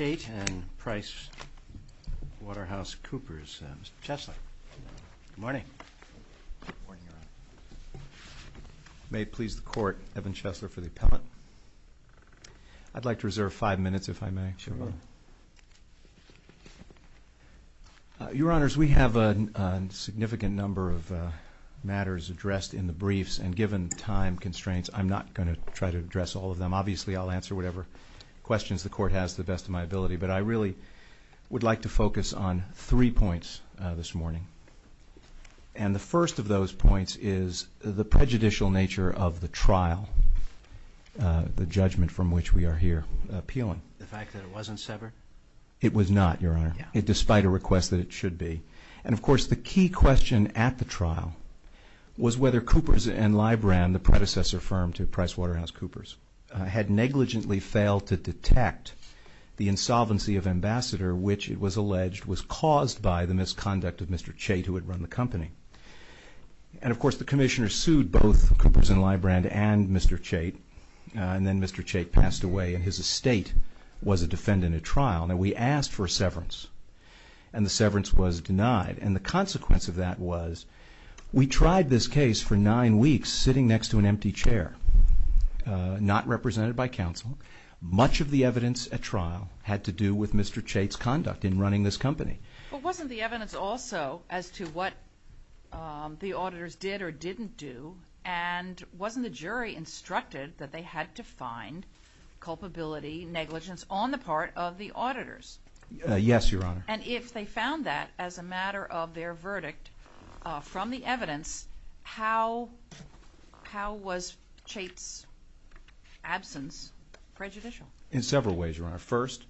and Price Waterhouse Coopers. Mr. Chesler. Good morning. May it please the Court, Evan Chesler for the appellate. I'd like to reserve five minutes if I may. Your Honors, we have a significant number of matters addressed in the briefs and given time constraints I'm not going to try to address all of them. Obviously I'll answer whatever questions the Court has to the best of my ability, but I really would like to focus on three points this morning. And the first of those points is the prejudicial nature of the trial, the judgment from which we are here appealing. The fact that it wasn't severed? It was not, Your Honor, despite a request that it should be. And of course the key question at the trial was whether Coopers and Libram, the predecessor firm to Price Waterhouse Coopers, had negligently failed to detect the insolvency of Ambassador, which it was alleged was caused by the misconduct of Mr. Chait who had run the company. And of course the Commissioner sued both Coopers and Libram and Mr. Chait, and then Mr. Chait passed away and his estate was a defendant at trial. Now we asked for severance and the severance was denied. And the consequence of that was we tried this case for nine weeks sitting next to an empty chair, not represented by counsel. Much of the evidence at trial had to do with Mr. Chait's conduct in running this company. But wasn't the evidence also as to what the auditors did or didn't do? And wasn't the jury instructed that they had to find culpability negligence on the part of the auditors? Yes, Your Honor. And if they found that as a matter of their verdict from the evidence, how how was Chait's absence prejudicial? In several ways, Your Honor. First,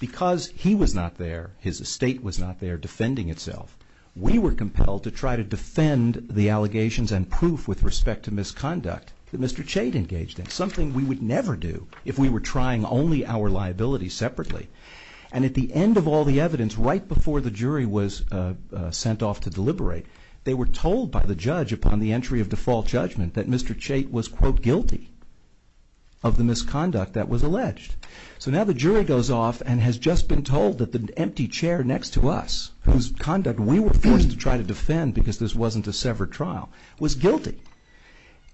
because he was not there, his estate was not there defending itself, we were compelled to try to defend the allegations and proof with respect to misconduct that Mr. Chait engaged in. Something we would never do if we were trying only our liability separately. And at the end of all the evidence, right before the jury was sent off to deliberate, they were told by the judge upon the entry of default judgment that Mr. Chait was quote guilty of the misconduct that was alleged. So now the jury goes off and has just been told that the empty chair next to us, whose conduct we were forced to try to defend because this wasn't a severed trial, was guilty.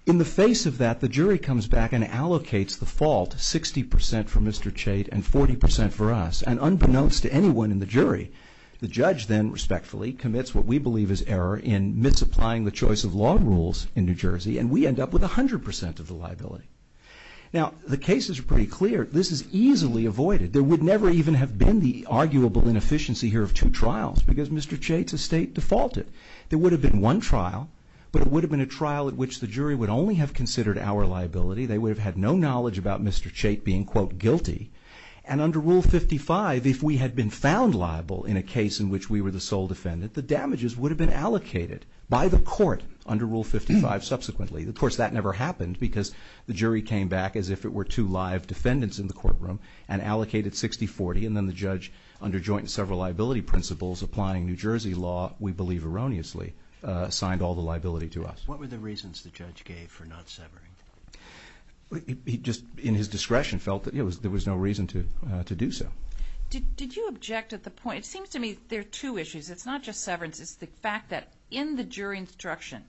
In the face of that, the jury comes back and allocates the fault 60% for Mr. Chait and 40% for us. And unbeknownst to anyone in the jury, the judge then respectfully commits what we believe is error in misapplying the choice of law rules in New Jersey and we end up with a hundred percent of the liability. Now the cases are pretty clear, this is easily avoided. There would never even have been the arguable inefficiency here of two trials because Mr. Chait's estate defaulted. There would have been one trial, but it would have been a trial at which the jury would only have considered our liability. They would have had no knowledge about Mr. Chait being quote guilty and under Rule 55, if we had been found liable in a case in which we were the sole defendant, the damages would have been allocated by the court under Rule 55 subsequently. Of course that never happened because the jury came back as if it were two live defendants in the courtroom and allocated 60-40 and then the judge, under joint and several liability principles applying New Jersey law, we believe erroneously, signed all the liability to us. What were the reasons the judge gave for not severing? He just, in his discretion, felt that there was no reason to to do so. Did you object at the point, it seems to me there are two issues, it's not just severance, it's the fact that in the jury instruction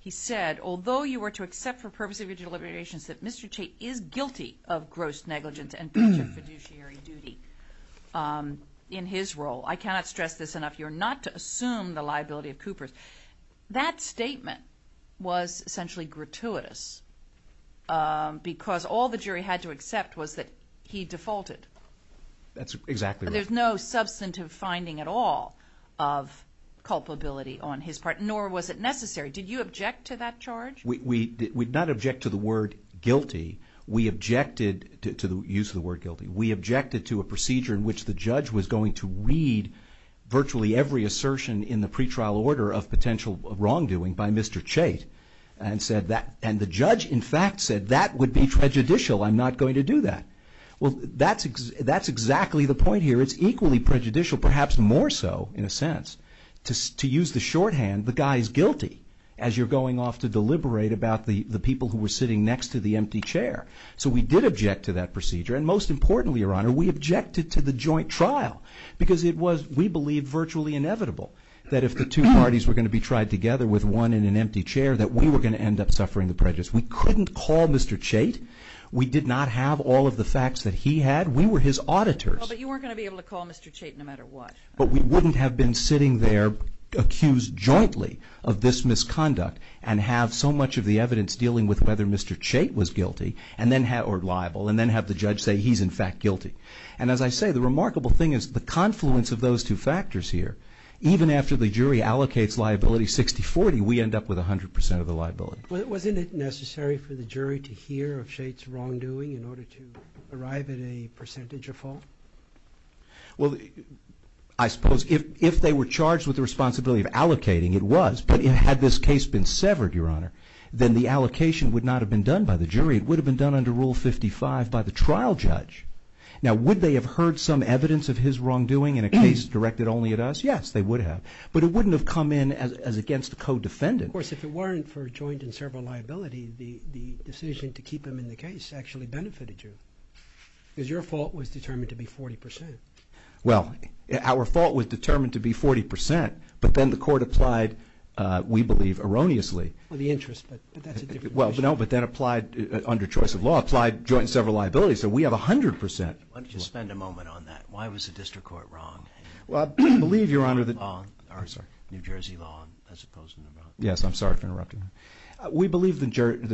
he said although you were to accept for purpose of your deliberations that Mr. Chait is guilty of gross negligence and budget fiduciary duty in his role, I cannot stress this enough, you're not to assume the liability of Cooper's. That statement was essentially gratuitous because all the jury had to accept was that he defaulted. That's exactly right. There's no substantive finding at all of culpability on his part, nor was it necessary. Did you object to that charge? We did not object to the word guilty, we objected to the use of the word guilty, we objected to a procedure in which the judge was going to read virtually every assertion in the case against Mr. Chait, and the judge in fact said that would be prejudicial, I'm not going to do that. Well that's exactly the point here, it's equally prejudicial, perhaps more so in a sense, to use the shorthand, the guy's guilty, as you're going off to deliberate about the people who were sitting next to the empty chair. So we did object to that procedure, and most importantly, your honor, we objected to the joint trial because it was, we believe, virtually inevitable that if the two parties were going to be tried together with one in an empty chair, that we were going to end up suffering the prejudice. We couldn't call Mr. Chait, we did not have all of the facts that he had, we were his auditors. But you weren't going to be able to call Mr. Chait no matter what. But we wouldn't have been sitting there, accused jointly of this misconduct, and have so much of the evidence dealing with whether Mr. Chait was guilty, and then had, or liable, and then have the judge say he's in fact guilty. And as I say, the remarkable thing is the confluence of those two factors here, even after the liability 60-40, we end up with 100% of the liability. Wasn't it necessary for the jury to hear of Chait's wrongdoing in order to arrive at a percentage of fault? Well, I suppose if they were charged with the responsibility of allocating, it was, but had this case been severed, your honor, then the allocation would not have been done by the jury, it would have been done under Rule 55 by the trial judge. Now would they have heard some evidence of his wrongdoing in a case directed only at us? Yes, they would have. But it wouldn't have come in as against a co-defendant. Of course, if it weren't for joint and several liability, the decision to keep him in the case actually benefited you. Because your fault was determined to be 40%. Well, our fault was determined to be 40%, but then the court applied, we believe, erroneously. Well, the interest, but that's a different issue. Well, no, but then applied under choice of law, applied joint and several liability, so we have 100%. Why don't you spend a moment on that? Why was the district court wrong? Well, I believe, your honor, that... New Jersey law, as opposed to New Brunswick. Yes, I'm sorry for interrupting. We believe the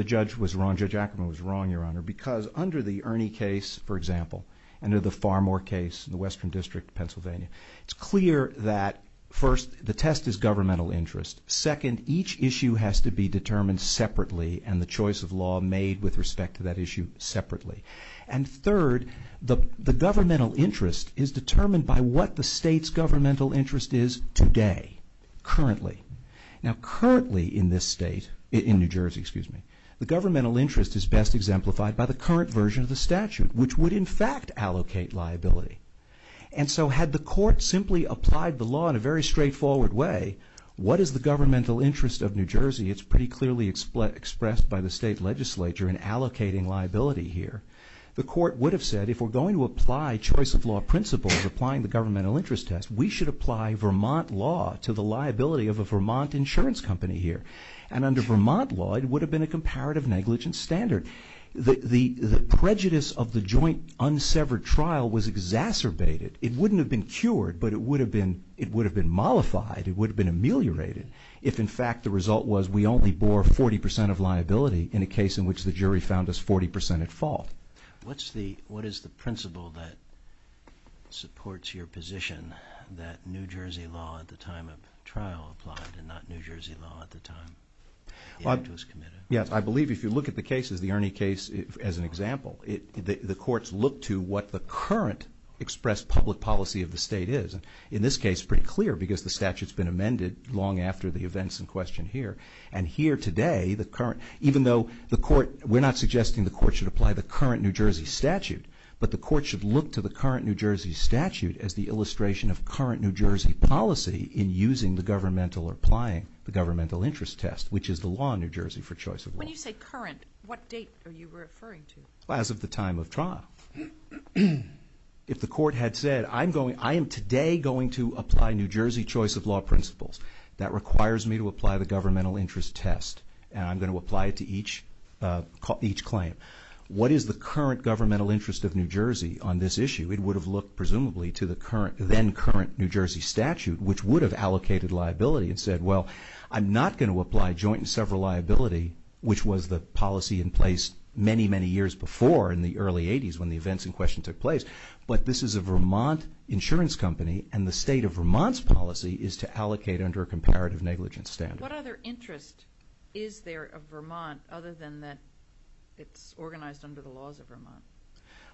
judge was wrong, Judge Ackerman was wrong, your honor, because under the Ernie case, for example, and under the Farmore case in the Western District of Pennsylvania, it's clear that, first, the test is governmental interest. Second, each issue has to be determined separately and the choice of law made with respect to that issue separately. And third, the governmental interest is determined by what the state's governmental interest is today, currently. Now, currently in this state, in New Jersey, excuse me, the governmental interest is best exemplified by the current version of the statute, which would, in fact, allocate liability. And so had the court simply applied the law in a very straightforward way, what is the governmental interest of New Jersey? It's pretty clearly expressed by the state legislature in allocating liability here. The court would have said, if we're going to apply choice of law principles applying the governmental interest test, we should apply Vermont law to the liability of a Vermont insurance company here. And under Vermont law, it would have been a comparative negligence standard. The prejudice of the joint unsevered trial was exacerbated. It wouldn't have been cured, but it would have been mollified. It would have been ameliorated if, in fact, the result was we only bore 40 percent of liability in a case in which the jury found us 40 percent at fault. What is the principle that supports your position that New Jersey law at the time of trial applied and not New Jersey law at the time the act was committed? Yes, I believe if you look at the cases, the Ernie case as an example, the courts look to what the current expressed public policy of the state is. In this case, it's pretty clear because the statute's been amended long after the events in question here. And here today, even though we're not suggesting the court should apply the current New Jersey statute, but the court should look to the current New Jersey statute as the illustration of current New Jersey policy in using the governmental or applying the governmental interest test, which is the law in New Jersey for choice of law. When you say current, what date are you referring to? As of the time of trial. If the court had said, I am today going to apply New Jersey choice of law principles. That requires me to apply the governmental interest test, and I'm going to apply it to each claim. What is the current governmental interest of New Jersey on this issue? It would have looked presumably to the then current New Jersey statute, which would have allocated liability and said, well, I'm not going to apply joint and several liability, which was the policy in place many, many years before in the early 80s when the events in question took place. But this is a Vermont insurance company, and the state of Vermont's policy is to allocate under a comparative negligence standard. What other interest is there of Vermont other than that it's organized under the laws of Vermont?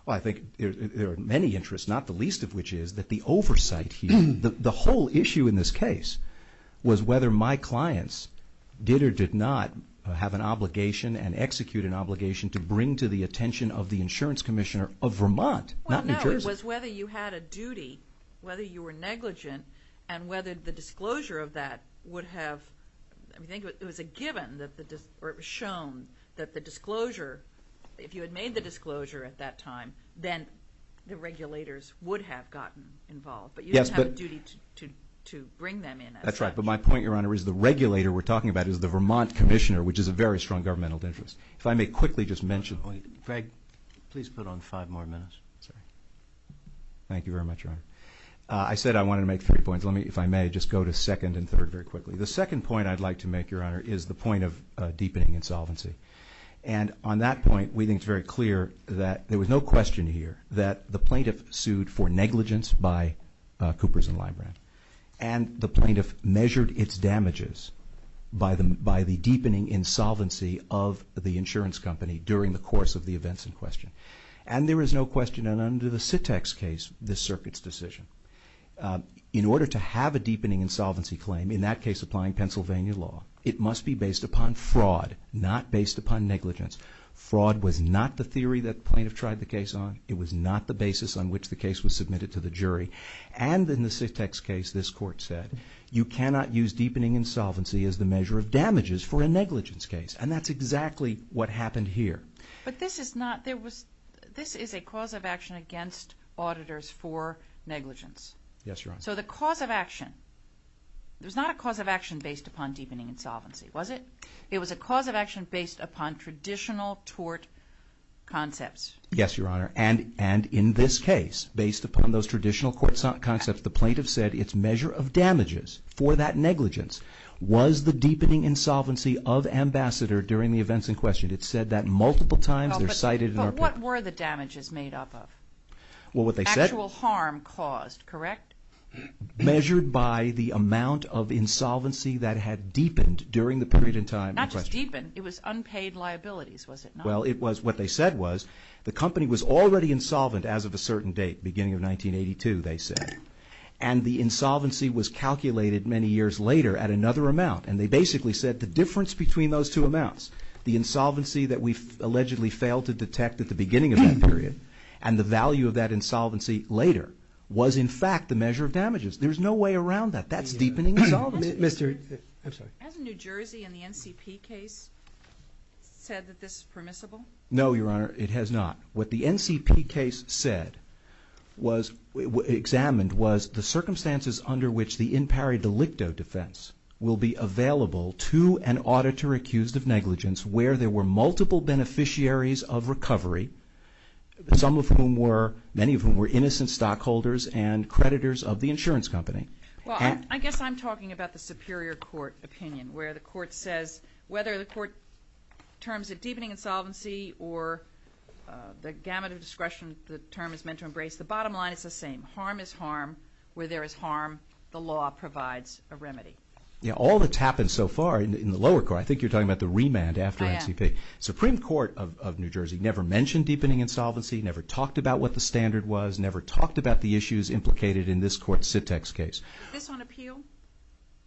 Well, I think there are many interests, not the least of which is that the oversight here, I mean, the whole issue in this case was whether my clients did or did not have an obligation and execute an obligation to bring to the attention of the insurance commissioner of Vermont, not New Jersey. Well, no, it was whether you had a duty, whether you were negligent, and whether the disclosure of that would have, I think it was a given or it was shown that the disclosure, if you had made the disclosure at that time, then the regulators would have gotten involved. But you didn't have a duty to bring them in as such. That's right. But my point, Your Honor, is the regulator we're talking about is the Vermont commissioner, which is a very strong governmental interest. If I may quickly just mention one. Greg, please put on five more minutes. Thank you very much, Your Honor. I said I wanted to make three points. Let me, if I may, just go to second and third very quickly. The second point I'd like to make, Your Honor, is the point of deepening insolvency. And on that point, we think it's very clear that there was no question here that the plaintiff sued for negligence by Coopers and Libran, and the plaintiff measured its damages by the deepening insolvency of the insurance company during the course of the events in question. And there is no question that under the SITEX case, this circuit's decision, in order to have a deepening insolvency claim, in that case applying Pennsylvania law, it must be based upon fraud, not based upon negligence. Fraud was not the theory that the plaintiff tried the case on. It was not the basis on which the case was submitted to the jury. And in the SITEX case, this Court said, you cannot use deepening insolvency as the measure of damages for a negligence case. And that's exactly what happened here. But this is not, there was, this is a cause of action against auditors for negligence. Yes, Your Honor. So the cause of action, it was not a cause of action based upon deepening insolvency, was it? It was a cause of action based upon traditional tort concepts. Yes, Your Honor. And in this case, based upon those traditional tort concepts, the plaintiff said its measure of damages for that negligence was the deepening insolvency of Ambassador during the events in question. It said that multiple times. But what were the damages made up of? Well, what they said. Actual harm caused, correct? Measured by the amount of insolvency that had deepened during the period in time. Not just deepened. It was unpaid liabilities, was it not? Well, it was, what they said was the company was already insolvent as of a certain date, beginning of 1982, they said. And the insolvency was calculated many years later at another amount. And they basically said the difference between those two amounts, the insolvency that we've allegedly failed to detect at the beginning of that period and the value of that insolvency later was, in fact, the measure of damages. There's no way around that. That's deepening insolvency. Has New Jersey in the NCP case said that this is permissible? No, Your Honor, it has not. What the NCP case said was examined was the circumstances under which the in pari delicto defense will be available to an auditor accused of negligence where there were multiple beneficiaries of recovery, some of whom were, many of whom were innocent stockholders and creditors of the insurance company. Well, I guess I'm talking about the superior court opinion where the court says whether the court terms it deepening insolvency or the gamut of discretion the term is meant to embrace, the bottom line is the same. Harm is harm. Where there is harm, the law provides a remedy. Yeah, all that's happened so far in the lower court, I think you're talking about the remand after NCP. I am. Supreme Court of New Jersey never mentioned deepening insolvency, never talked about what the standard was, never talked about the issues implicated in this court's Sit-Tex case. Is this on appeal?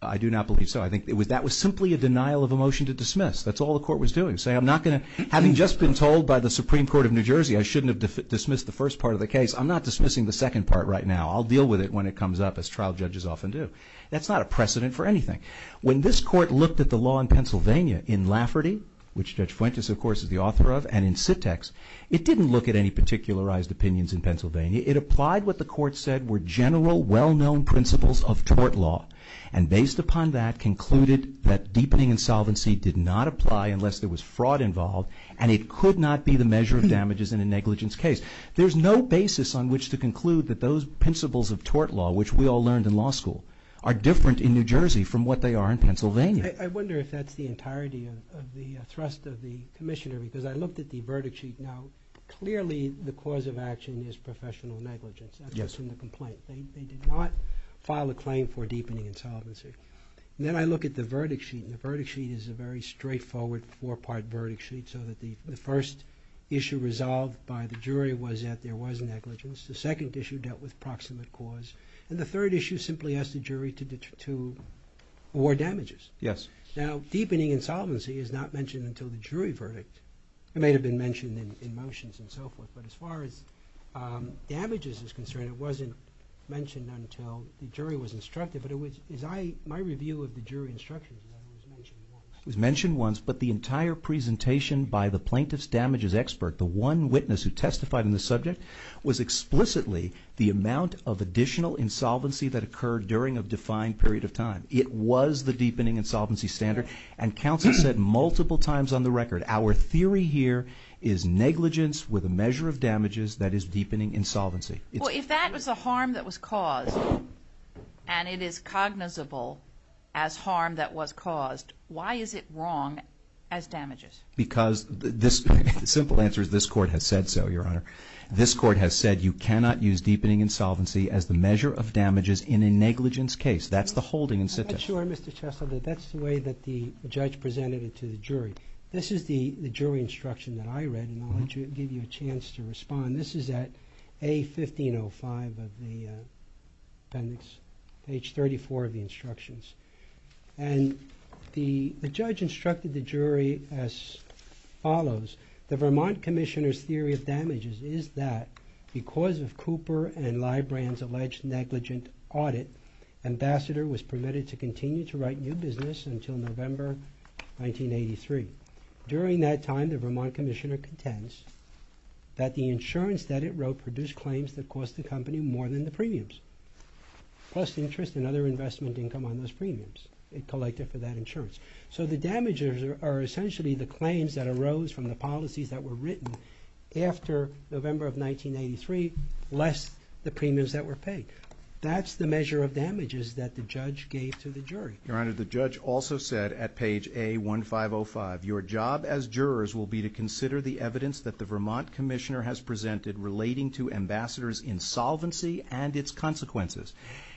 I do not believe so. I think that was simply a denial of a motion to dismiss. That's all the court was doing, saying I'm not going to, having just been told by the Supreme Court of New Jersey I shouldn't have dismissed the first part of the case, I'm not dismissing the second part right now. I'll deal with it when it comes up as trial judges often do. That's not a precedent for anything. When this court looked at the law in Pennsylvania in Lafferty, which Judge Fuentes, of course, is the author of, and in Sit-Tex, it didn't look at any particularized opinions in Pennsylvania. It applied what the court said were general, well-known principles of tort law, and based upon that concluded that deepening insolvency did not apply unless there was fraud involved, and it could not be the measure of damages in a negligence case. There's no basis on which to conclude that those principles of tort law, which we all learned in law school, are different in New Jersey from what they are in Pennsylvania. I wonder if that's the entirety of the thrust of the Commissioner, because I looked at the verdict sheet. Now, clearly the cause of action is professional negligence. Yes. That's in the complaint. They did not file a claim for deepening insolvency. Then I look at the verdict sheet, and the verdict sheet is a very straightforward four-part verdict sheet so that the first issue resolved by the jury was that there was negligence. The second issue dealt with proximate cause, and the third issue simply asked the jury to award damages. Yes. Now, deepening insolvency is not mentioned until the jury verdict. It may have been mentioned in motions and so forth, but as far as damages is concerned, it wasn't mentioned until the jury was instructed, but my review of the jury instructions was mentioned once. It was mentioned once, but the entire presentation by the plaintiff's damages expert, the one witness who testified on the subject, was explicitly the amount of additional insolvency that occurred during a defined period of time. It was the deepening insolvency standard, and counsel said multiple times on the record, our theory here is negligence with a measure of damages, that is deepening insolvency. Well, if that was the harm that was caused, and it is cognizable as harm that was caused, why is it wrong as damages? Because the simple answer is this Court has said so, Your Honor. This Court has said you cannot use deepening insolvency as the measure of damages in a negligence case. That's the holding incentive. I'm not sure, Mr. Chessler, that that's the way that the judge presented it to the jury. This is the jury instruction that I read, and I'll give you a chance to respond. This is at A-1505 of the appendix, page 34 of the instructions. And the judge instructed the jury as follows. The Vermont Commissioner's theory of damages is that because of Cooper and Librand's alleged negligent audit, Ambassador was permitted to continue to write new business until November 1983. During that time, the Vermont Commissioner contends that the insurance that it wrote produced claims that cost the company more than the premiums, plus interest and other investment income on those premiums it collected for that insurance. So the damages are essentially the claims that arose from the policies that were written after November of 1983, less the premiums that were paid. That's the measure of damages that the judge gave to the jury. Your Honor, the judge also said at page A-1505, your job as jurors will be to consider the evidence that the Vermont Commissioner has presented relating to Ambassador's insolvency and its consequences.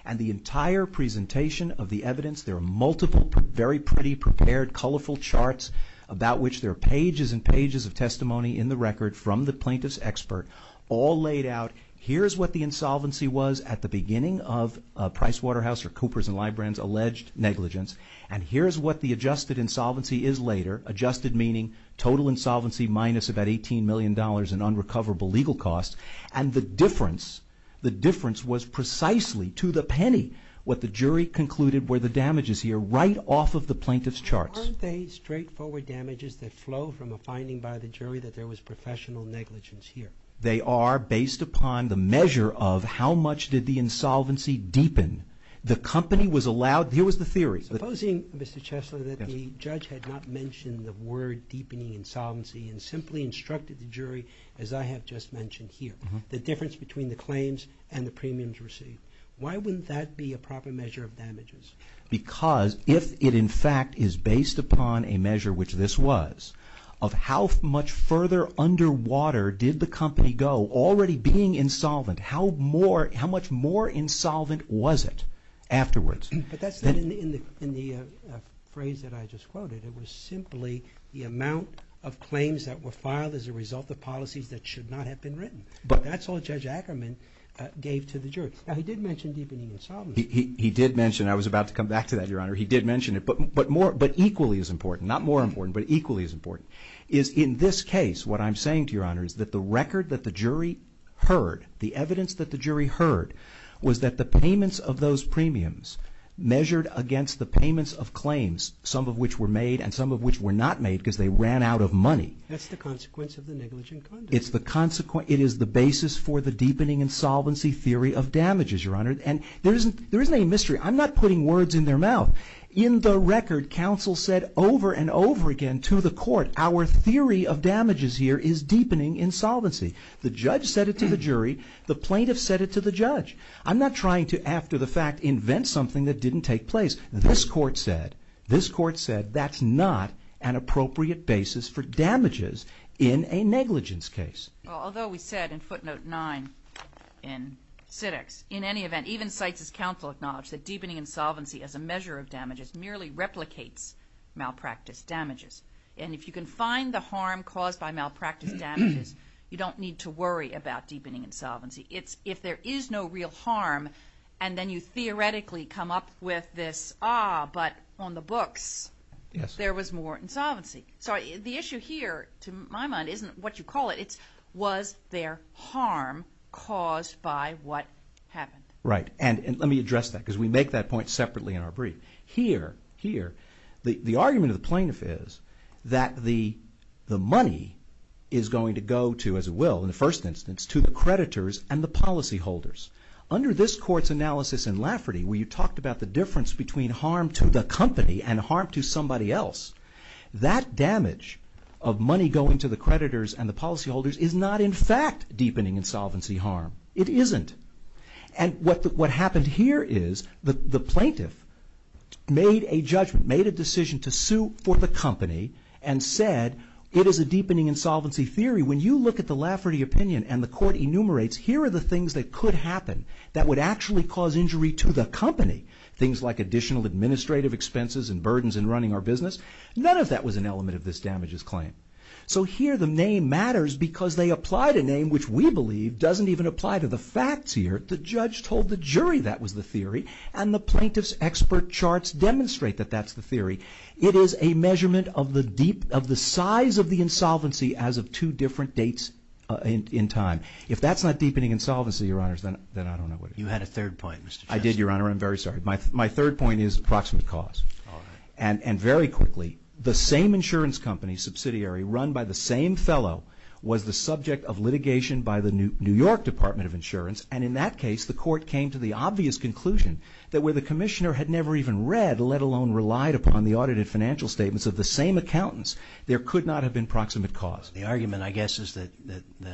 And the entire presentation of the evidence, there are multiple very pretty, prepared, colorful charts about which there are pages and pages of testimony in the record from the plaintiff's expert, all laid out. Here's what the insolvency was at the beginning of Pricewaterhouse or Cooper's and Librand's alleged negligence. And here's what the adjusted insolvency is later. Adjusted meaning total insolvency minus about $18 million in unrecoverable legal costs. And the difference, the difference was precisely to the penny what the jury concluded were the damages here, right off of the plaintiff's charts. Weren't they straightforward damages that flow from a finding by the jury that there was professional negligence here? They are based upon the measure of how much did the insolvency deepen the company was allowed, here was the theory. Supposing, Mr. Chesler, that the judge had not mentioned the word deepening insolvency and simply instructed the jury, as I have just mentioned here, the difference between the claims and the premiums received. Why wouldn't that be a proper measure of damages? Because if it in fact is based upon a measure, which this was, of how much further underwater did the company go, already being insolvent, how much more insolvent was it afterwards? But that's not in the phrase that I just quoted. It was simply the amount of claims that were filed as a result of policies that should not have been written. But that's all Judge Ackerman gave to the jury. Now, he did mention deepening insolvency. He did mention it. I was about to come back to that, Your Honor. He did mention it. But equally as important, not more important, but equally as important, is in this case what I'm saying to Your Honor is that the record that the jury heard, the evidence that the jury heard, was that the payments of those premiums measured against the payments of claims, some of which were made and some of which were not made because they ran out of money. That's the consequence of the negligent conduct. It is the basis for the deepening insolvency theory of damages, Your Honor. And there isn't any mystery. I'm not putting words in their mouth. In the record, counsel said over and over again to the court, our theory of damages here is deepening insolvency. The judge said it to the jury. The plaintiff said it to the judge. I'm not trying to, after the fact, invent something that didn't take place. This court said that's not an appropriate basis for damages in a negligence case. Although we said in footnote 9 in SIDX, in any event, even CITES' counsel acknowledged that deepening insolvency as a measure of damages merely replicates malpractice damages. And if you can find the harm caused by malpractice damages, you don't need to worry about deepening insolvency. If there is no real harm and then you theoretically come up with this, ah, but on the books there was more insolvency. So the issue here, to my mind, isn't what you call it. It's was there harm caused by what happened. Right. And let me address that because we make that point separately in our brief. Here, the argument of the plaintiff is that the money is going to go to, as it will in the first instance, to the creditors and the policyholders. Under this court's analysis in Lafferty where you talked about the difference between harm to the company and harm to somebody else, that damage of money going to the creditors and the policyholders is not in fact deepening insolvency harm. It isn't. And what happened here is the plaintiff made a judgment, made a decision to sue for the company and said it is a deepening insolvency theory. When you look at the Lafferty opinion and the court enumerates, here are the things that could happen that would actually cause injury to the company. Things like additional administrative expenses and burdens in running our business. None of that was an element of this damages claim. So here the name matters because they applied a name which we believe doesn't even apply to the facts here. The judge told the jury that was the theory and the plaintiff's expert charts demonstrate that that's the theory. It is a measurement of the size of the insolvency as of two different dates in time. If that's not deepening insolvency, Your Honors, then I don't know what it is. You had a third point, Mr. Justice. I did, Your Honor. I'm very sorry. My third point is approximate cause. And very quickly, the same insurance company subsidiary run by the same fellow was the subject of litigation by the New York Department of Insurance. And in that case, the court came to the obvious conclusion that where the commissioner had never even read, let alone relied upon the audited financial statements of the same accountants, there could not have been proximate cause. The argument, I guess, is that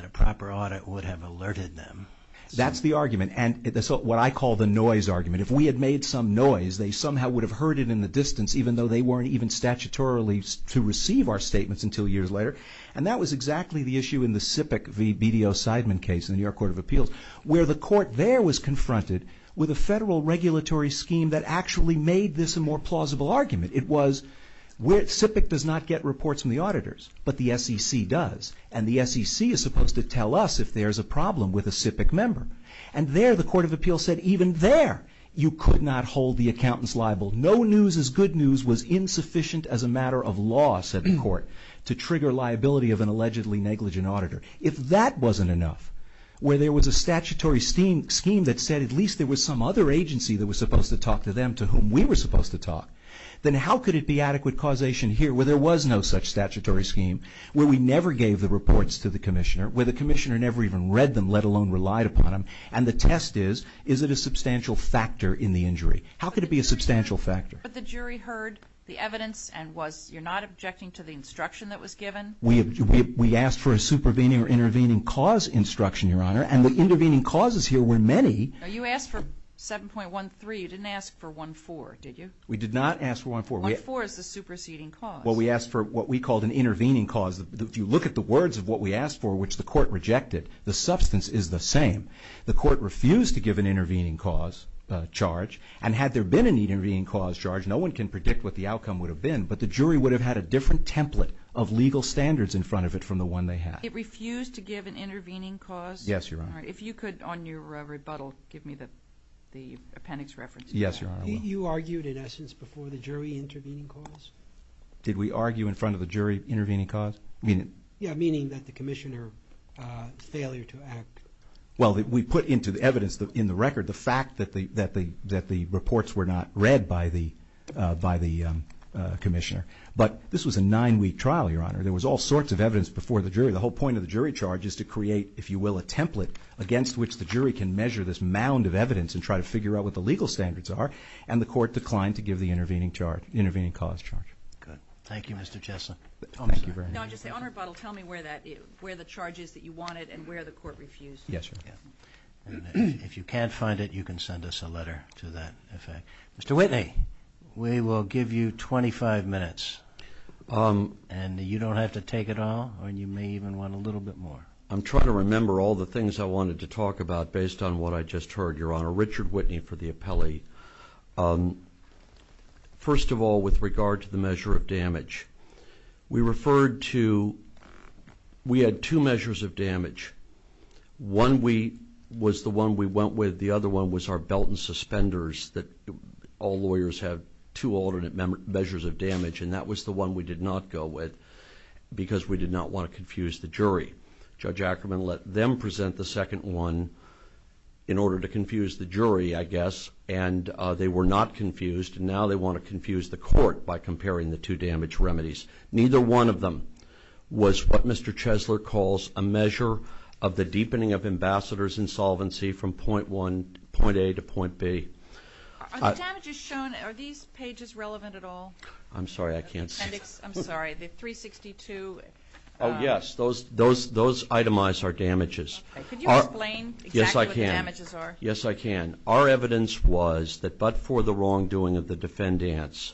a proper audit would have alerted them. That's the argument. And that's what I call the noise argument. If we had made some noise, they somehow would have heard it in the distance even though they weren't even statutorily to receive our statements until years later. And that was exactly the issue in the SIPC v. BDO-Sideman case in the New York Court of Appeals where the court there was confronted with a federal regulatory scheme that actually made this a more plausible argument. It was SIPC does not get reports from the auditors, but the SEC does. And the SEC is supposed to tell us if there's a problem with a SIPC member. And there, the Court of Appeals said, even there, you could not hold the accountants liable. No news is good news was insufficient as a matter of law, said the court, to trigger liability of an allegedly negligent auditor. If that wasn't enough, where there was a statutory scheme that said at least there was some other agency that was supposed to talk to them to whom we were supposed to talk, then how could it be adequate causation here where there was no such statutory scheme, where we never gave the reports to the commissioner, where the commissioner never even read them, let alone relied upon them, and the test is, is it a substantial factor in the injury? How could it be a substantial factor? But the jury heard the evidence and was, you're not objecting to the instruction that was given? We asked for a supervening or intervening cause instruction, Your Honor. And the intervening causes here were many. You asked for 7.13. You didn't ask for 1.4, did you? We did not ask for 1.4. 1.4 is the superseding cause. Well, we asked for what we called an intervening cause. If you look at the words of what we asked for, which the court rejected, the substance is the same. The court refused to give an intervening cause charge. And had there been an intervening cause charge, no one can predict what the outcome would have been, but the jury would have had a different template of legal standards in front of it from the one they had. It refused to give an intervening cause? Yes, Your Honor. All right. If you could, on your rebuttal, give me the appendix reference. Yes, Your Honor. You argued, in essence, before the jury intervening cause? Did we argue in front of the jury intervening cause? Yeah, meaning that the commissioner's failure to act. Well, we put into the evidence in the record the fact that the reports were not read by the commissioner. But this was a nine-week trial, Your Honor. There was all sorts of evidence before the jury. The whole point of the jury charge is to create, if you will, a template against which the jury can measure this mound of evidence and try to figure out what the legal standards are. And the court declined to give the intervening charge, intervening cause charge. Good. Thank you, Mr. Chesson. Thank you very much. Your Honor, on your rebuttal, tell me where the charge is that you wanted and where the court refused. Yes, Your Honor. If you can't find it, you can send us a letter to that effect. Mr. Whitney, we will give you 25 minutes. And you don't have to take it all, or you may even want a little bit more. I'm trying to remember all the things I wanted to talk about based on what I just heard, Your Honor. Richard Whitney for the appellee. First of all, with regard to the measure of damage, we referred to we had two measures of damage. One was the one we went with. The other one was our belt and suspenders that all lawyers have two alternate measures of damage, and that was the one we did not go with because we did not want to confuse the jury. Judge Ackerman let them present the second one in order to confuse the jury, I guess, and they were not confused, and now they want to confuse the court by comparing the two damage remedies. Neither one of them was what Mr. Chesler calls a measure of the deepening of ambassador's insolvency from point A to point B. Are the damages shown, are these pages relevant at all? I'm sorry, I can't see. The appendix, I'm sorry, the 362. Oh, yes, those itemize our damages. Could you explain exactly what the damages are? Yes, I can. Our evidence was that but for the wrongdoing of the defendants,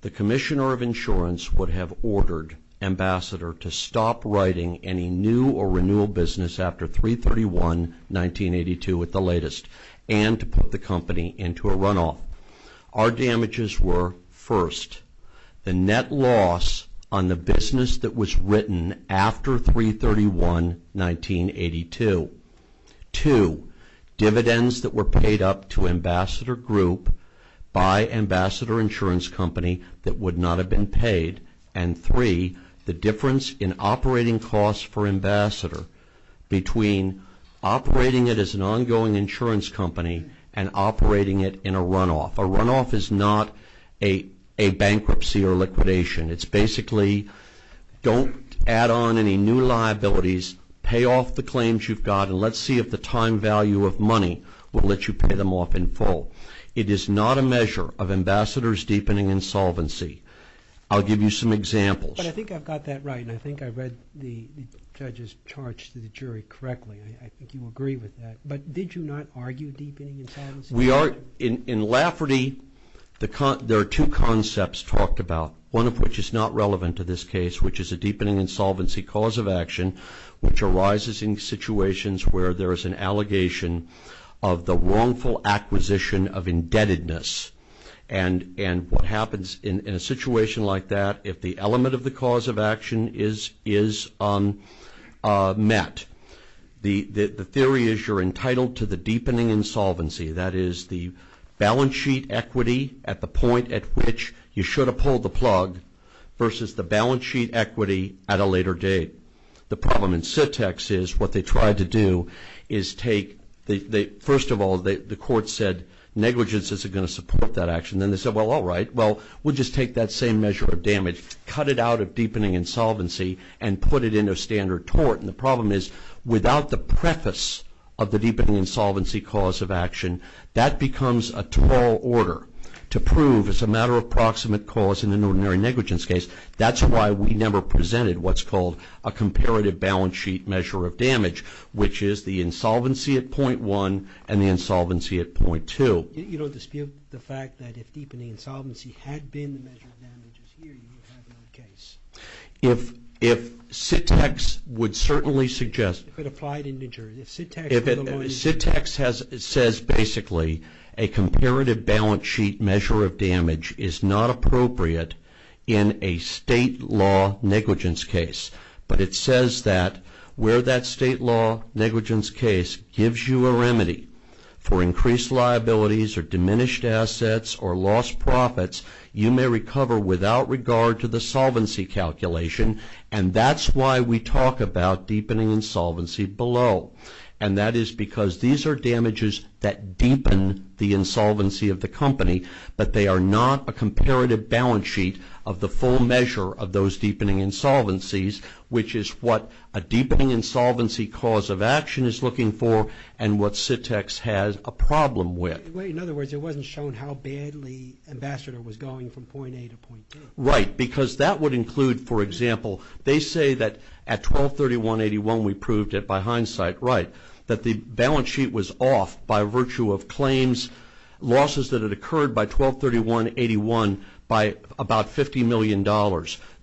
the Commissioner of Insurance would have ordered Ambassador to stop writing any new or renewal business after 3-31-1982 with the latest and to put the company into a runoff. Our damages were, first, the net loss on the business that was written after 3-31-1982. Two, dividends that were paid up to Ambassador Group by Ambassador Insurance Company that would not have been paid. And three, the difference in operating costs for Ambassador between operating it as an ongoing insurance company and operating it in a runoff. A runoff is not a bankruptcy or liquidation. It's basically don't add on any new liabilities, pay off the claims you've got, and let's see if the time value of money will let you pay them off in full. It is not a measure of Ambassador's deepening insolvency. I'll give you some examples. But I think I've got that right, and I think I read the judge's charge to the jury correctly. I think you agree with that. But did you not argue deepening insolvency? In Lafferty, there are two concepts talked about, one of which is not relevant to this case, which is a deepening insolvency cause of action which arises in situations where there is an allegation of the wrongful acquisition of indebtedness. And what happens in a situation like that, if the element of the cause of action is met, the theory is you're entitled to the deepening insolvency, that is the balance sheet equity at the point at which you should have pulled the plug, versus the balance sheet equity at a later date. The problem in SITX is what they tried to do is take the – first of all, the court said, negligence isn't going to support that action. Then they said, well, all right, well, we'll just take that same measure of damage, cut it out of deepening insolvency, and put it into standard tort. And the problem is without the preface of the deepening insolvency cause of action, that becomes a tall order to prove as a matter of proximate cause in an ordinary negligence case. That's why we never presented what's called a comparative balance sheet measure of damage, which is the insolvency at point one and the insolvency at point two. You don't dispute the fact that if deepening insolvency had been the measure of damages here, you would have another case. If SITX would certainly suggest – If it applied in New Jersey. If SITX says basically a comparative balance sheet measure of damage is not appropriate in a state law negligence case, but it says that where that state law negligence case gives you a remedy for increased liabilities or diminished assets or lost profits, you may recover without regard to the solvency calculation. And that's why we talk about deepening insolvency below. And that is because these are damages that deepen the insolvency of the company, but they are not a comparative balance sheet of the full measure of those deepening insolvencies, which is what a deepening insolvency cause of action is looking for and what SITX has a problem with. In other words, it wasn't shown how badly Ambassador was going from point A to point B. Right, because that would include, for example, they say that at 1231.81 we proved it by hindsight, right, that the balance sheet was off by virtue of claims, losses that had occurred by 1231.81 by about $50 million.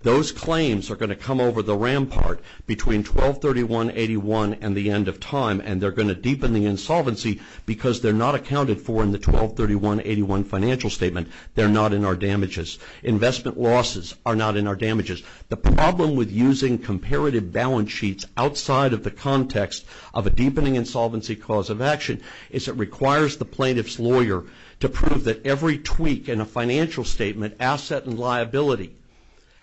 Those claims are going to come over the rampart between 1231.81 and the end of time, and they're going to deepen the insolvency because they're not accounted for in the 1231.81 financial statement. They're not in our damages. Investment losses are not in our damages. The problem with using comparative balance sheets outside of the context of a deepening insolvency cause of action is it requires the plaintiff's lawyer to prove that every tweak in a financial statement, asset and liability,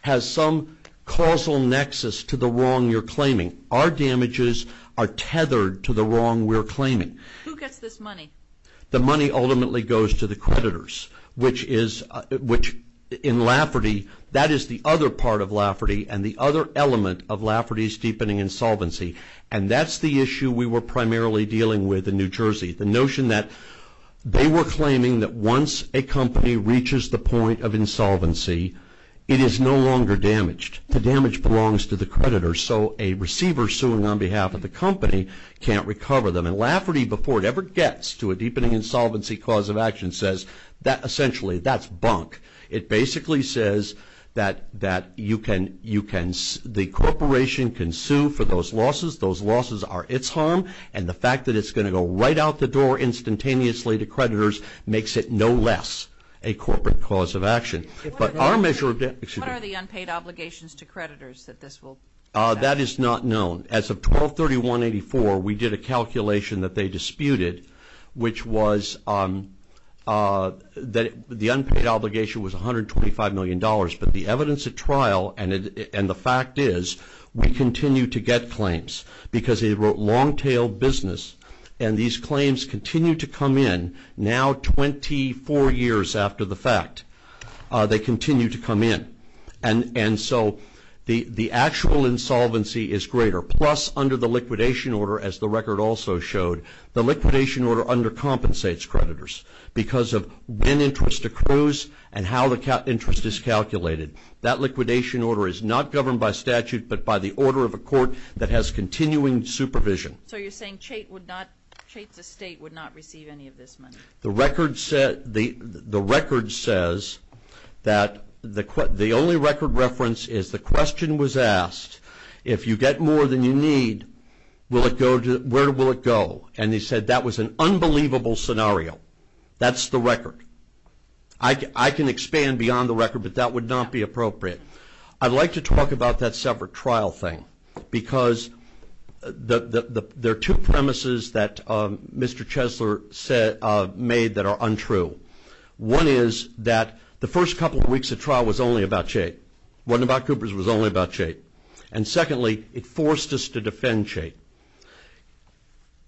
has some causal nexus to the wrong you're claiming. Our damages are tethered to the wrong we're claiming. Who gets this money? The money ultimately goes to the creditors, which in Lafferty, that is the other part of Lafferty and the other element of Lafferty's deepening insolvency, and that's the issue we were primarily dealing with in New Jersey. The notion that they were claiming that once a company reaches the point of insolvency, it is no longer damaged. The damage belongs to the creditors, so a receiver suing on behalf of the company can't recover them. And Lafferty, before it ever gets to a deepening insolvency cause of action, says that essentially that's bunk. It basically says that the corporation can sue for those losses, those losses are its harm, and the fact that it's going to go right out the door instantaneously to creditors makes it no less a corporate cause of action. What are the unpaid obligations to creditors that this will affect? That is not known. As of 12-31-84, we did a calculation that they disputed, which was that the unpaid obligation was $125 million, but the evidence at trial and the fact is we continue to get claims because they were long-tailed business, and these claims continue to come in now 24 years after the fact. They continue to come in. And so the actual insolvency is greater. Plus, under the liquidation order, as the record also showed, the liquidation order undercompensates creditors because of when interest accrues and how the interest is calculated. That liquidation order is not governed by statute but by the order of a court that has continuing supervision. So you're saying Chait's estate would not receive any of this money? The record says that the only record reference is the question was asked, if you get more than you need, where will it go? And they said that was an unbelievable scenario. That's the record. I can expand beyond the record, but that would not be appropriate. I'd like to talk about that separate trial thing because there are two premises that Mr. Chesler made that are untrue. One is that the first couple of weeks of trial was only about Chait. It wasn't about Coopers. It was only about Chait. And secondly, it forced us to defend Chait.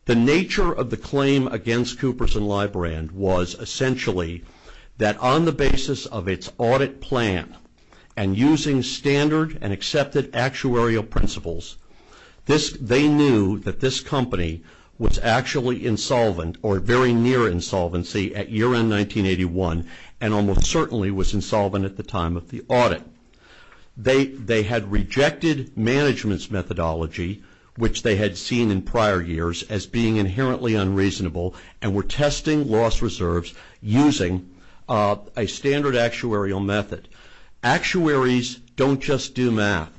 The nature of the claim against Coopers and Librand was essentially that on the basis of its audit plan and using standard and accepted actuarial principles, they knew that this company was actually insolvent or very near insolvency at year end 1981 and almost certainly was insolvent at the time of the audit. They had rejected management's methodology, which they had seen in prior years as being inherently unreasonable and were testing loss reserves using a standard actuarial method. Actuaries don't just do math.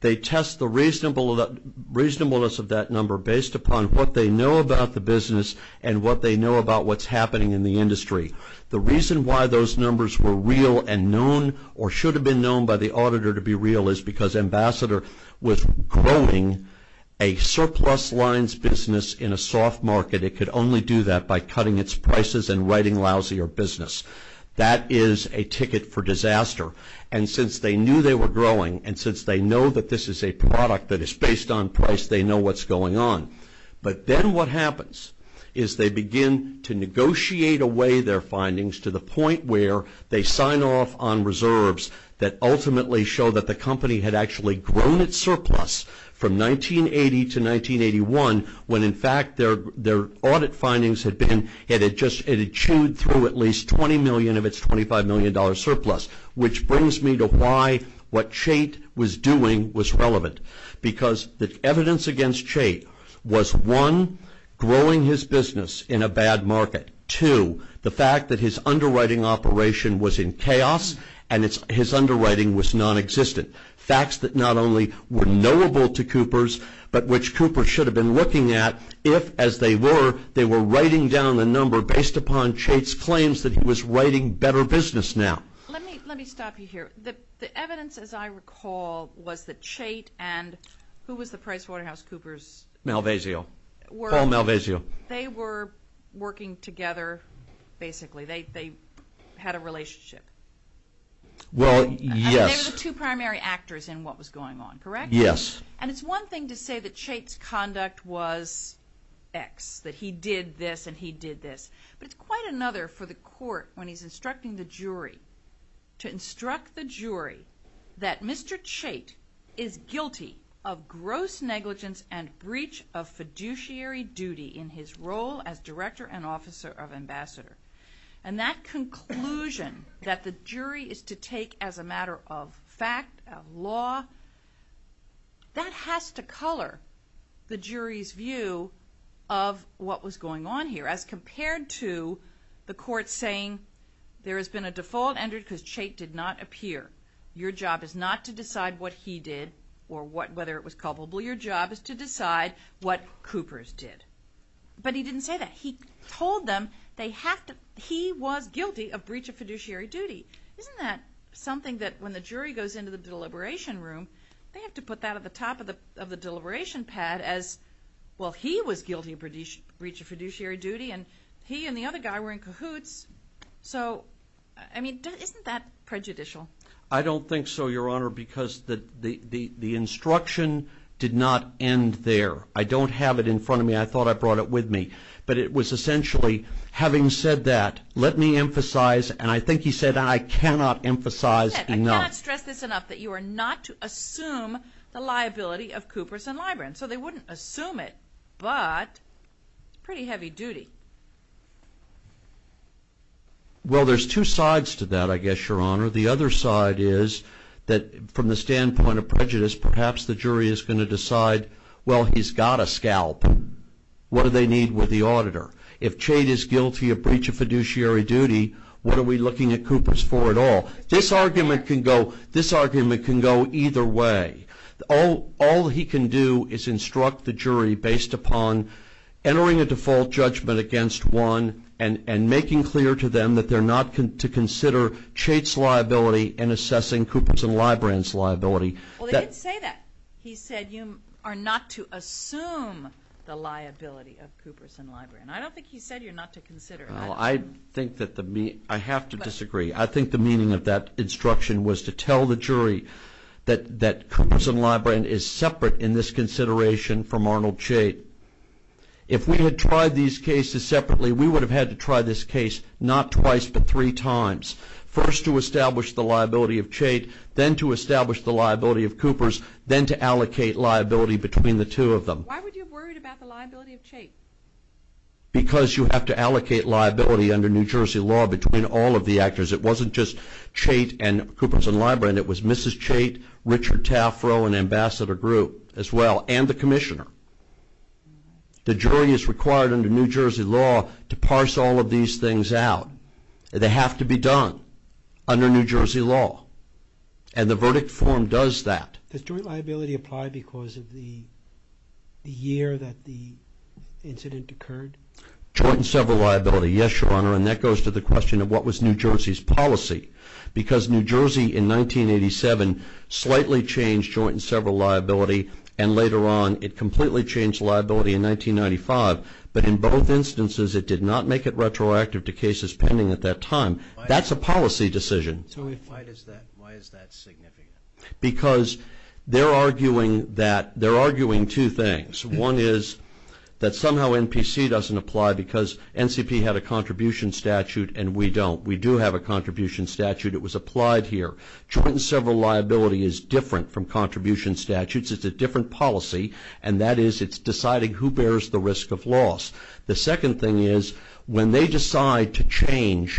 They test the reasonableness of that number based upon what they know about the business and what they know about what's happening in the industry. The reason why those numbers were real and known or should have been known by the auditor to be real is because Ambassador was growing a surplus lines business in a soft market. It could only do that by cutting its prices and writing lousy or business. That is a ticket for disaster. And since they knew they were growing and since they know that this is a product that is based on price, they know what's going on. But then what happens is they begin to negotiate away their findings to the point where they sign off on reserves that ultimately show that the company had actually grown its surplus from 1980 to 1981 when in fact their audit findings had been, it had chewed through at least $20 million of its $25 million surplus. Which brings me to why what Chait was doing was relevant. Because the evidence against Chait was one, growing his business in a bad market. Two, the fact that his underwriting operation was in chaos and his underwriting was non-existent. Facts that not only were knowable to Coopers but which Coopers should have been looking at if as they were, they were writing down the number based upon Chait's claims that he was writing better business now. Let me stop you here. The evidence as I recall was that Chait and who was the PricewaterhouseCoopers? Malvasio. Paul Malvasio. They were working together basically. They had a relationship. Well, yes. They were the two primary actors in what was going on, correct? Yes. And it's one thing to say that Chait's conduct was X, that he did this and he did this. But it's quite another for the court when he's instructing the jury, to instruct the jury that Mr. Chait is guilty of gross negligence and breach of fiduciary duty in his role as Director and Officer of Ambassador. And that conclusion that the jury is to take as a matter of fact, of law, that has to color the jury's view of what was going on here as compared to the court saying there has been a default entered because Chait did not appear. Your job is not to decide what he did or whether it was culpable. Your job is to decide what Coopers did. But he didn't say that. He told them he was guilty of breach of fiduciary duty. Isn't that something that when the jury goes into the deliberation room, they have to put that at the top of the deliberation pad as, well, he was guilty of breach of fiduciary duty and he and the other guy were in cahoots. So, I mean, isn't that prejudicial? I don't think so, Your Honor, because the instruction did not end there. I don't have it in front of me. I thought I brought it with me. But it was essentially having said that, let me emphasize, and I think he said, I cannot emphasize enough. I cannot stress this enough that you are not to assume the liability of Coopers and Libran. So they wouldn't assume it, but it's pretty heavy duty. Well, there's two sides to that, I guess, Your Honor. The other side is that from the standpoint of prejudice, perhaps the jury is going to decide, well, he's got a scalp. What do they need with the auditor? If Chait is guilty of breach of fiduciary duty, what are we looking at Coopers for at all? This argument can go either way. All he can do is instruct the jury based upon entering a default judgment against one and making clear to them that they're not to consider Chait's liability and assessing Coopers and Libran's liability. Well, they did say that. He said you are not to assume the liability of Coopers and Libran. I don't think he said you're not to consider it. Well, I have to disagree. I think the meaning of that instruction was to tell the jury that Coopers and Libran is separate in this consideration from Arnold Chait. If we had tried these cases separately, we would have had to try this case not twice but three times, first to establish the liability of Chait, then to establish the liability of Coopers, then to allocate liability between the two of them. Why would you have worried about the liability of Chait? Because you have to allocate liability under New Jersey law between all of the actors. It wasn't just Chait and Coopers and Libran. It was Mrs. Chait, Richard Tafro, and Ambassador Group as well, and the commissioner. The jury is required under New Jersey law to parse all of these things out. They have to be done under New Jersey law, and the verdict form does that. Does joint liability apply because of the year that the incident occurred? Joint and several liability. Yes, Your Honor, and that goes to the question of what was New Jersey's policy, because New Jersey in 1987 slightly changed joint and several liability, and later on it completely changed liability in 1995, but in both instances it did not make it retroactive to cases pending at that time. That's a policy decision. Why is that significant? Because they're arguing two things. One is that somehow NPC doesn't apply because NCP had a contribution statute and we don't. We do have a contribution statute. It was applied here. Joint and several liability is different from contribution statutes. It's a different policy, and that is it's deciding who bears the risk of loss. The second thing is when they decide to change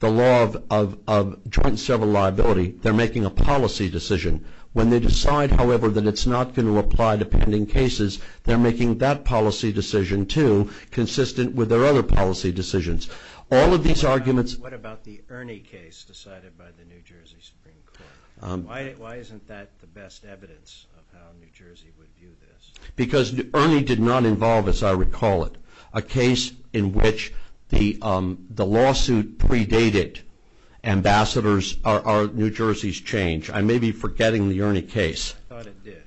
the law of joint and several liability, they're making a policy decision. When they decide, however, that it's not going to apply to pending cases, they're making that policy decision, too, consistent with their other policy decisions. All of these arguments. What about the Ernie case decided by the New Jersey Supreme Court? Why isn't that the best evidence of how New Jersey would view this? Because Ernie did not involve, as I recall it, a case in which the lawsuit predated ambassadors or New Jersey's change. I may be forgetting the Ernie case. I thought it did.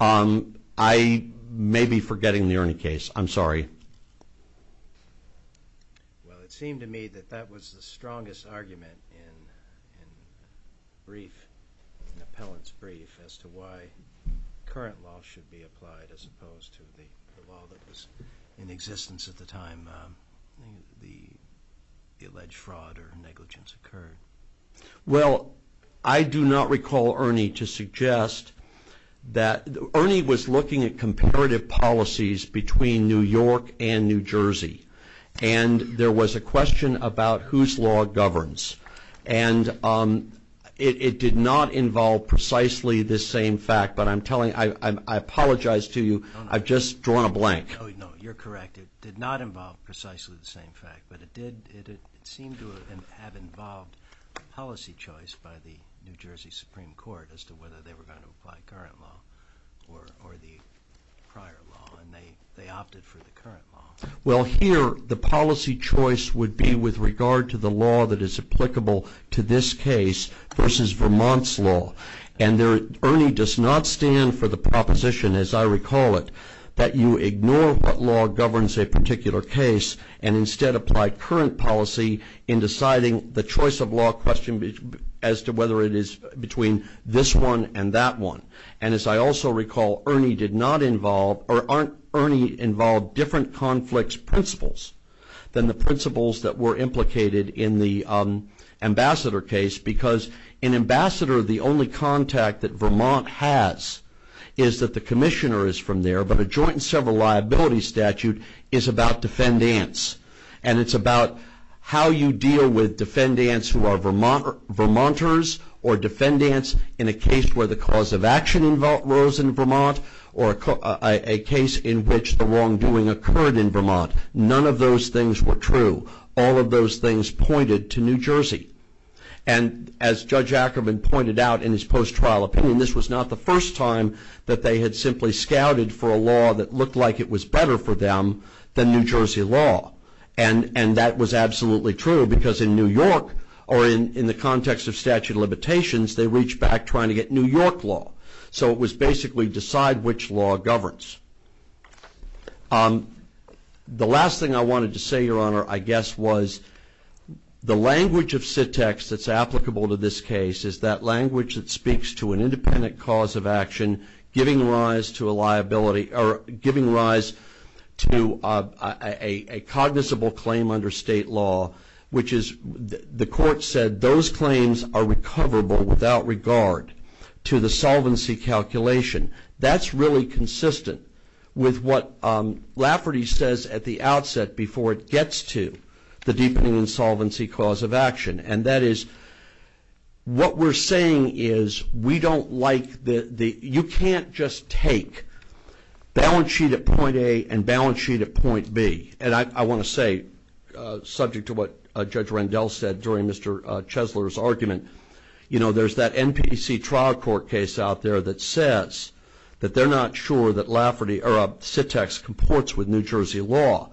I may be forgetting the Ernie case. I'm sorry. Well, it seemed to me that that was the strongest argument in brief, an appellant's brief as to why current law should be applied as opposed to the law that was in existence at the time the alleged fraud or negligence occurred. Well, I do not recall Ernie to suggest that Ernie was looking at comparative policies between New York and New Jersey, and there was a question about whose law governs. And it did not involve precisely this same fact, but I apologize to you. I've just drawn a blank. No, you're correct. It did not involve precisely the same fact, but it did seem to have involved policy choice by the New Jersey Supreme Court as to whether they were going to apply current law or the prior law, and they opted for the current law. Well, here the policy choice would be with regard to the law that is applicable to this case versus Vermont's law, and Ernie does not stand for the proposition, as I recall it, that you ignore what law governs a particular case and instead apply current policy in deciding the choice of law question as to whether it is between this one and that one. And as I also recall, Ernie did not involve or Ernie involved different conflicts principles than the principles that were implicated in the ambassador case because in ambassador, the only contact that Vermont has is that the commissioner is from there, but a joint and several liability statute is about defendants, and it's about how you deal with defendants who are Vermonters or defendants in a case where the cause of action involves in Vermont or a case in which the wrongdoing occurred in Vermont. None of those things were true. All of those things pointed to New Jersey, and as Judge Ackerman pointed out in his post-trial opinion, this was not the first time that they had simply scouted for a law that looked like it was better for them than New Jersey law, and that was absolutely true because in New York or in the context of statute of limitations, they reached back trying to get New York law. So it was basically decide which law governs. The last thing I wanted to say, Your Honor, I guess, was the language of SITX that's applicable to this case is that language that speaks to an independent cause of action giving rise to a liability or giving rise to a cognizable claim under state law, which is the court said those claims are recoverable without regard to the solvency calculation. That's really consistent with what Lafferty says at the outset before it gets to the deepening insolvency cause of action, and that is what we're saying is we don't like the – you can't just take balance sheet at point A and balance sheet at point B, and I want to say subject to what Judge Rendell said during Mr. Chesler's argument, you know, there's that NPC trial court case out there that says that they're not sure that Lafferty or SITX comports with New Jersey law,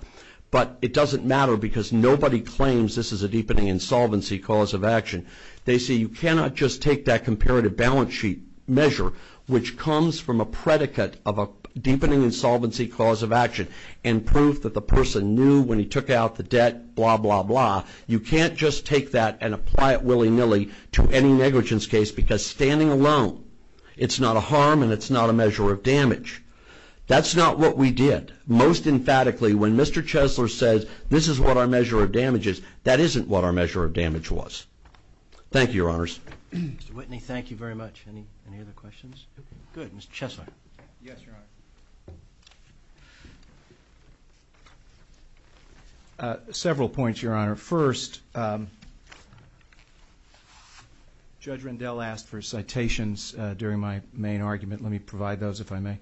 but it doesn't matter because nobody claims this is a deepening insolvency cause of action. They say you cannot just take that comparative balance sheet measure, which comes from a predicate of a deepening insolvency cause of action and proof that the person knew when he took out the debt, blah, blah, blah. You can't just take that and apply it willy-nilly to any negligence case because standing alone, it's not a harm and it's not a measure of damage. That's not what we did. Most emphatically, when Mr. Chesler says this is what our measure of damage is, that isn't what our measure of damage was. Thank you, Your Honors. Mr. Whitney, thank you very much. Any other questions? Good, Mr. Chesler. Yes, Your Honor. Several points, Your Honor. First, Judge Rendell asked for citations during my main argument. Let me provide those, if I may.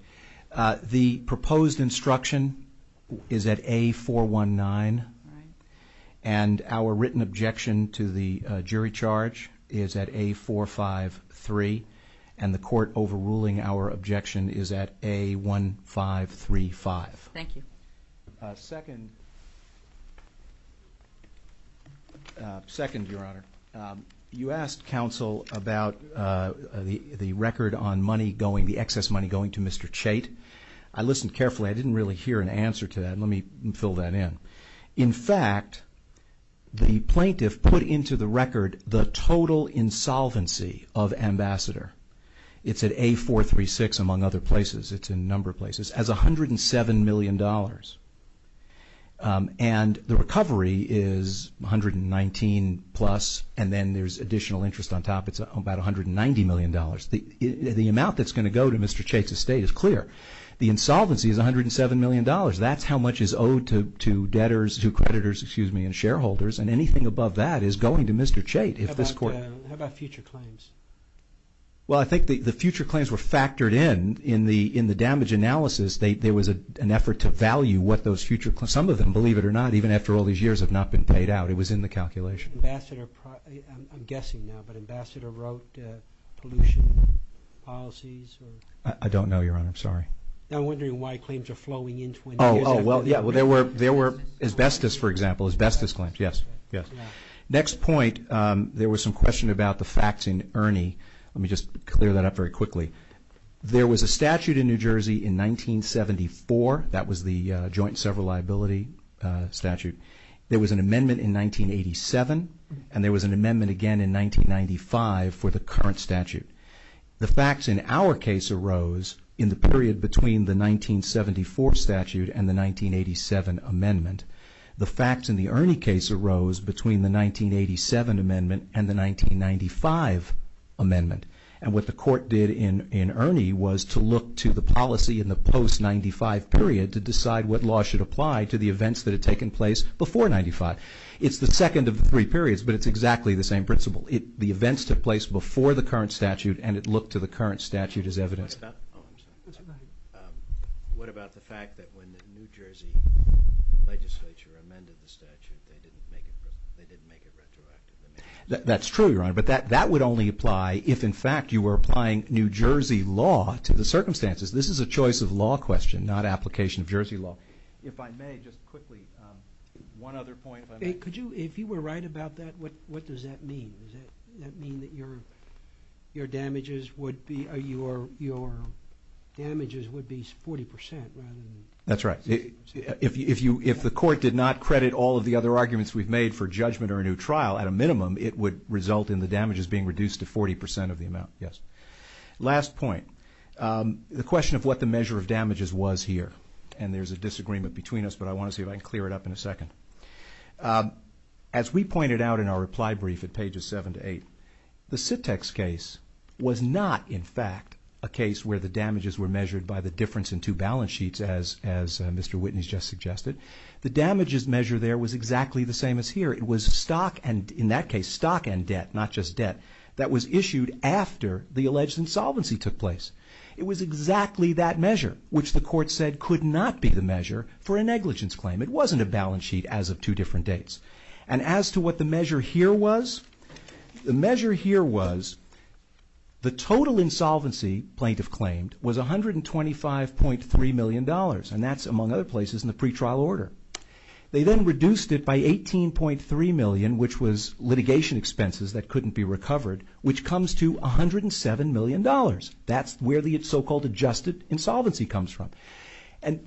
The proposed instruction is at A419, and our written objection to the jury charge is at A453, and the court overruling our objection is at A1535. Thank you. Second, Your Honor, you asked counsel about the record on money going, the excess money going to Mr. Chait. I listened carefully. I didn't really hear an answer to that. Let me fill that in. In fact, the plaintiff put into the record the total insolvency of Ambassador. It's at A436, among other places. It's in a number of places, as $107 million. And the recovery is $119 plus, and then there's additional interest on top. It's about $190 million. The amount that's going to go to Mr. Chait's estate is clear. The insolvency is $107 million. That's how much is owed to debtors, to creditors, excuse me, and shareholders, and anything above that is going to Mr. Chait. How about future claims? Well, I think the future claims were factored in. In the damage analysis, there was an effort to value what those future claims, some of them, believe it or not, even after all these years, have not been paid out. It was in the calculation. Ambassador, I'm guessing now, but Ambassador wrote pollution policies or? I don't know, Your Honor. I'm sorry. I'm wondering why claims are flowing into it. Oh, well, yeah. Well, there were asbestos, for example, asbestos claims. Yes, yes. Next point, there was some question about the facts in Ernie. Let me just clear that up very quickly. There was a statute in New Jersey in 1974. That was the joint several liability statute. There was an amendment in 1987, and there was an amendment again in 1995 for the current statute. The facts in our case arose in the period between the 1974 statute and the 1987 amendment. The facts in the Ernie case arose between the 1987 amendment and the 1995 amendment. And what the court did in Ernie was to look to the policy in the post-'95 period to decide what law should apply to the events that had taken place before'95. It's the second of the three periods, but it's exactly the same principle. The events took place before the current statute, and it looked to the current statute as evidence. What about the fact that when the New Jersey legislature amended the statute, they didn't make it retroactive? That's true, Your Honor. But that would only apply if, in fact, you were applying New Jersey law to the circumstances. This is a choice of law question, not application of Jersey law. If I may, just quickly, one other point. If you were right about that, what does that mean? Does that mean that your damages would be 40% rather than? That's right. If the court did not credit all of the other arguments we've made for judgment or a new trial, at a minimum, it would result in the damages being reduced to 40% of the amount, yes. Last point, the question of what the measure of damages was here, and there's a disagreement between us, but I want to see if I can clear it up in a second. As we pointed out in our reply brief at pages 7 to 8, the Sit-Tex case was not, in fact, a case where the damages were measured by the difference in two balance sheets, as Mr. Witness just suggested. The damages measure there was exactly the same as here. It was stock and, in that case, stock and debt, not just debt, that was issued after the alleged insolvency took place. It was exactly that measure, which the court said could not be the measure for a negligence claim. It wasn't a balance sheet as of two different dates. As to what the measure here was, the measure here was the total insolvency, plaintiff claimed, was $125.3 million, and that's, among other places, in the pretrial order. They then reduced it by $18.3 million, which was litigation expenses that couldn't be recovered, which comes to $107 million. That's where the so-called adjusted insolvency comes from.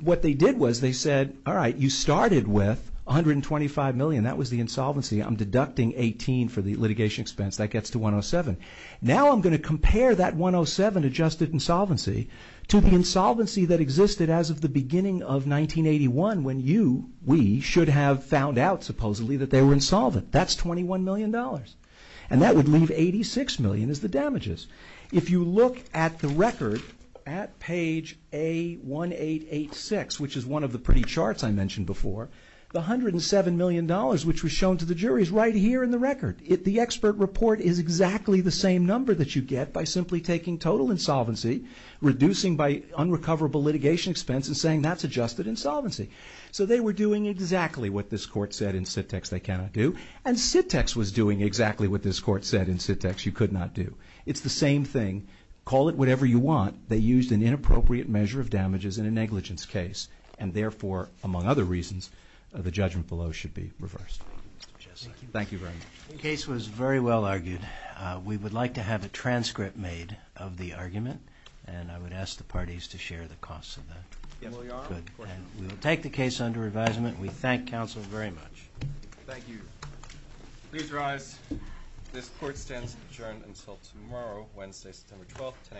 What they did was they said, all right, you started with $125 million. That was the insolvency. I'm deducting $18 for the litigation expense. That gets to $107. Now I'm going to compare that $107 adjusted insolvency to the insolvency that existed as of the beginning of 1981 when you, we, should have found out, supposedly, that they were insolvent. That's $21 million, and that would leave $86 million as the damages. If you look at the record at page A1886, which is one of the pretty charts I mentioned before, the $107 million which was shown to the jury is right here in the record. The expert report is exactly the same number that you get by simply taking total insolvency, reducing by unrecoverable litigation expense, and saying that's adjusted insolvency. So they were doing exactly what this court said in Sit-Tex they cannot do, and Sit-Tex was doing exactly what this court said in Sit-Tex you could not do. It's the same thing. Call it whatever you want. They used an inappropriate measure of damages in a negligence case, and therefore, among other reasons, the judgment below should be reversed. Thank you very much. The case was very well argued. We would like to have a transcript made of the argument, and I would ask the parties to share the costs of that. Yes, we are. Good. We will take the case under advisement. We thank counsel very much. Thank you. Please rise. This court stands adjourned until tomorrow, Wednesday, September 12th, 10 a.m.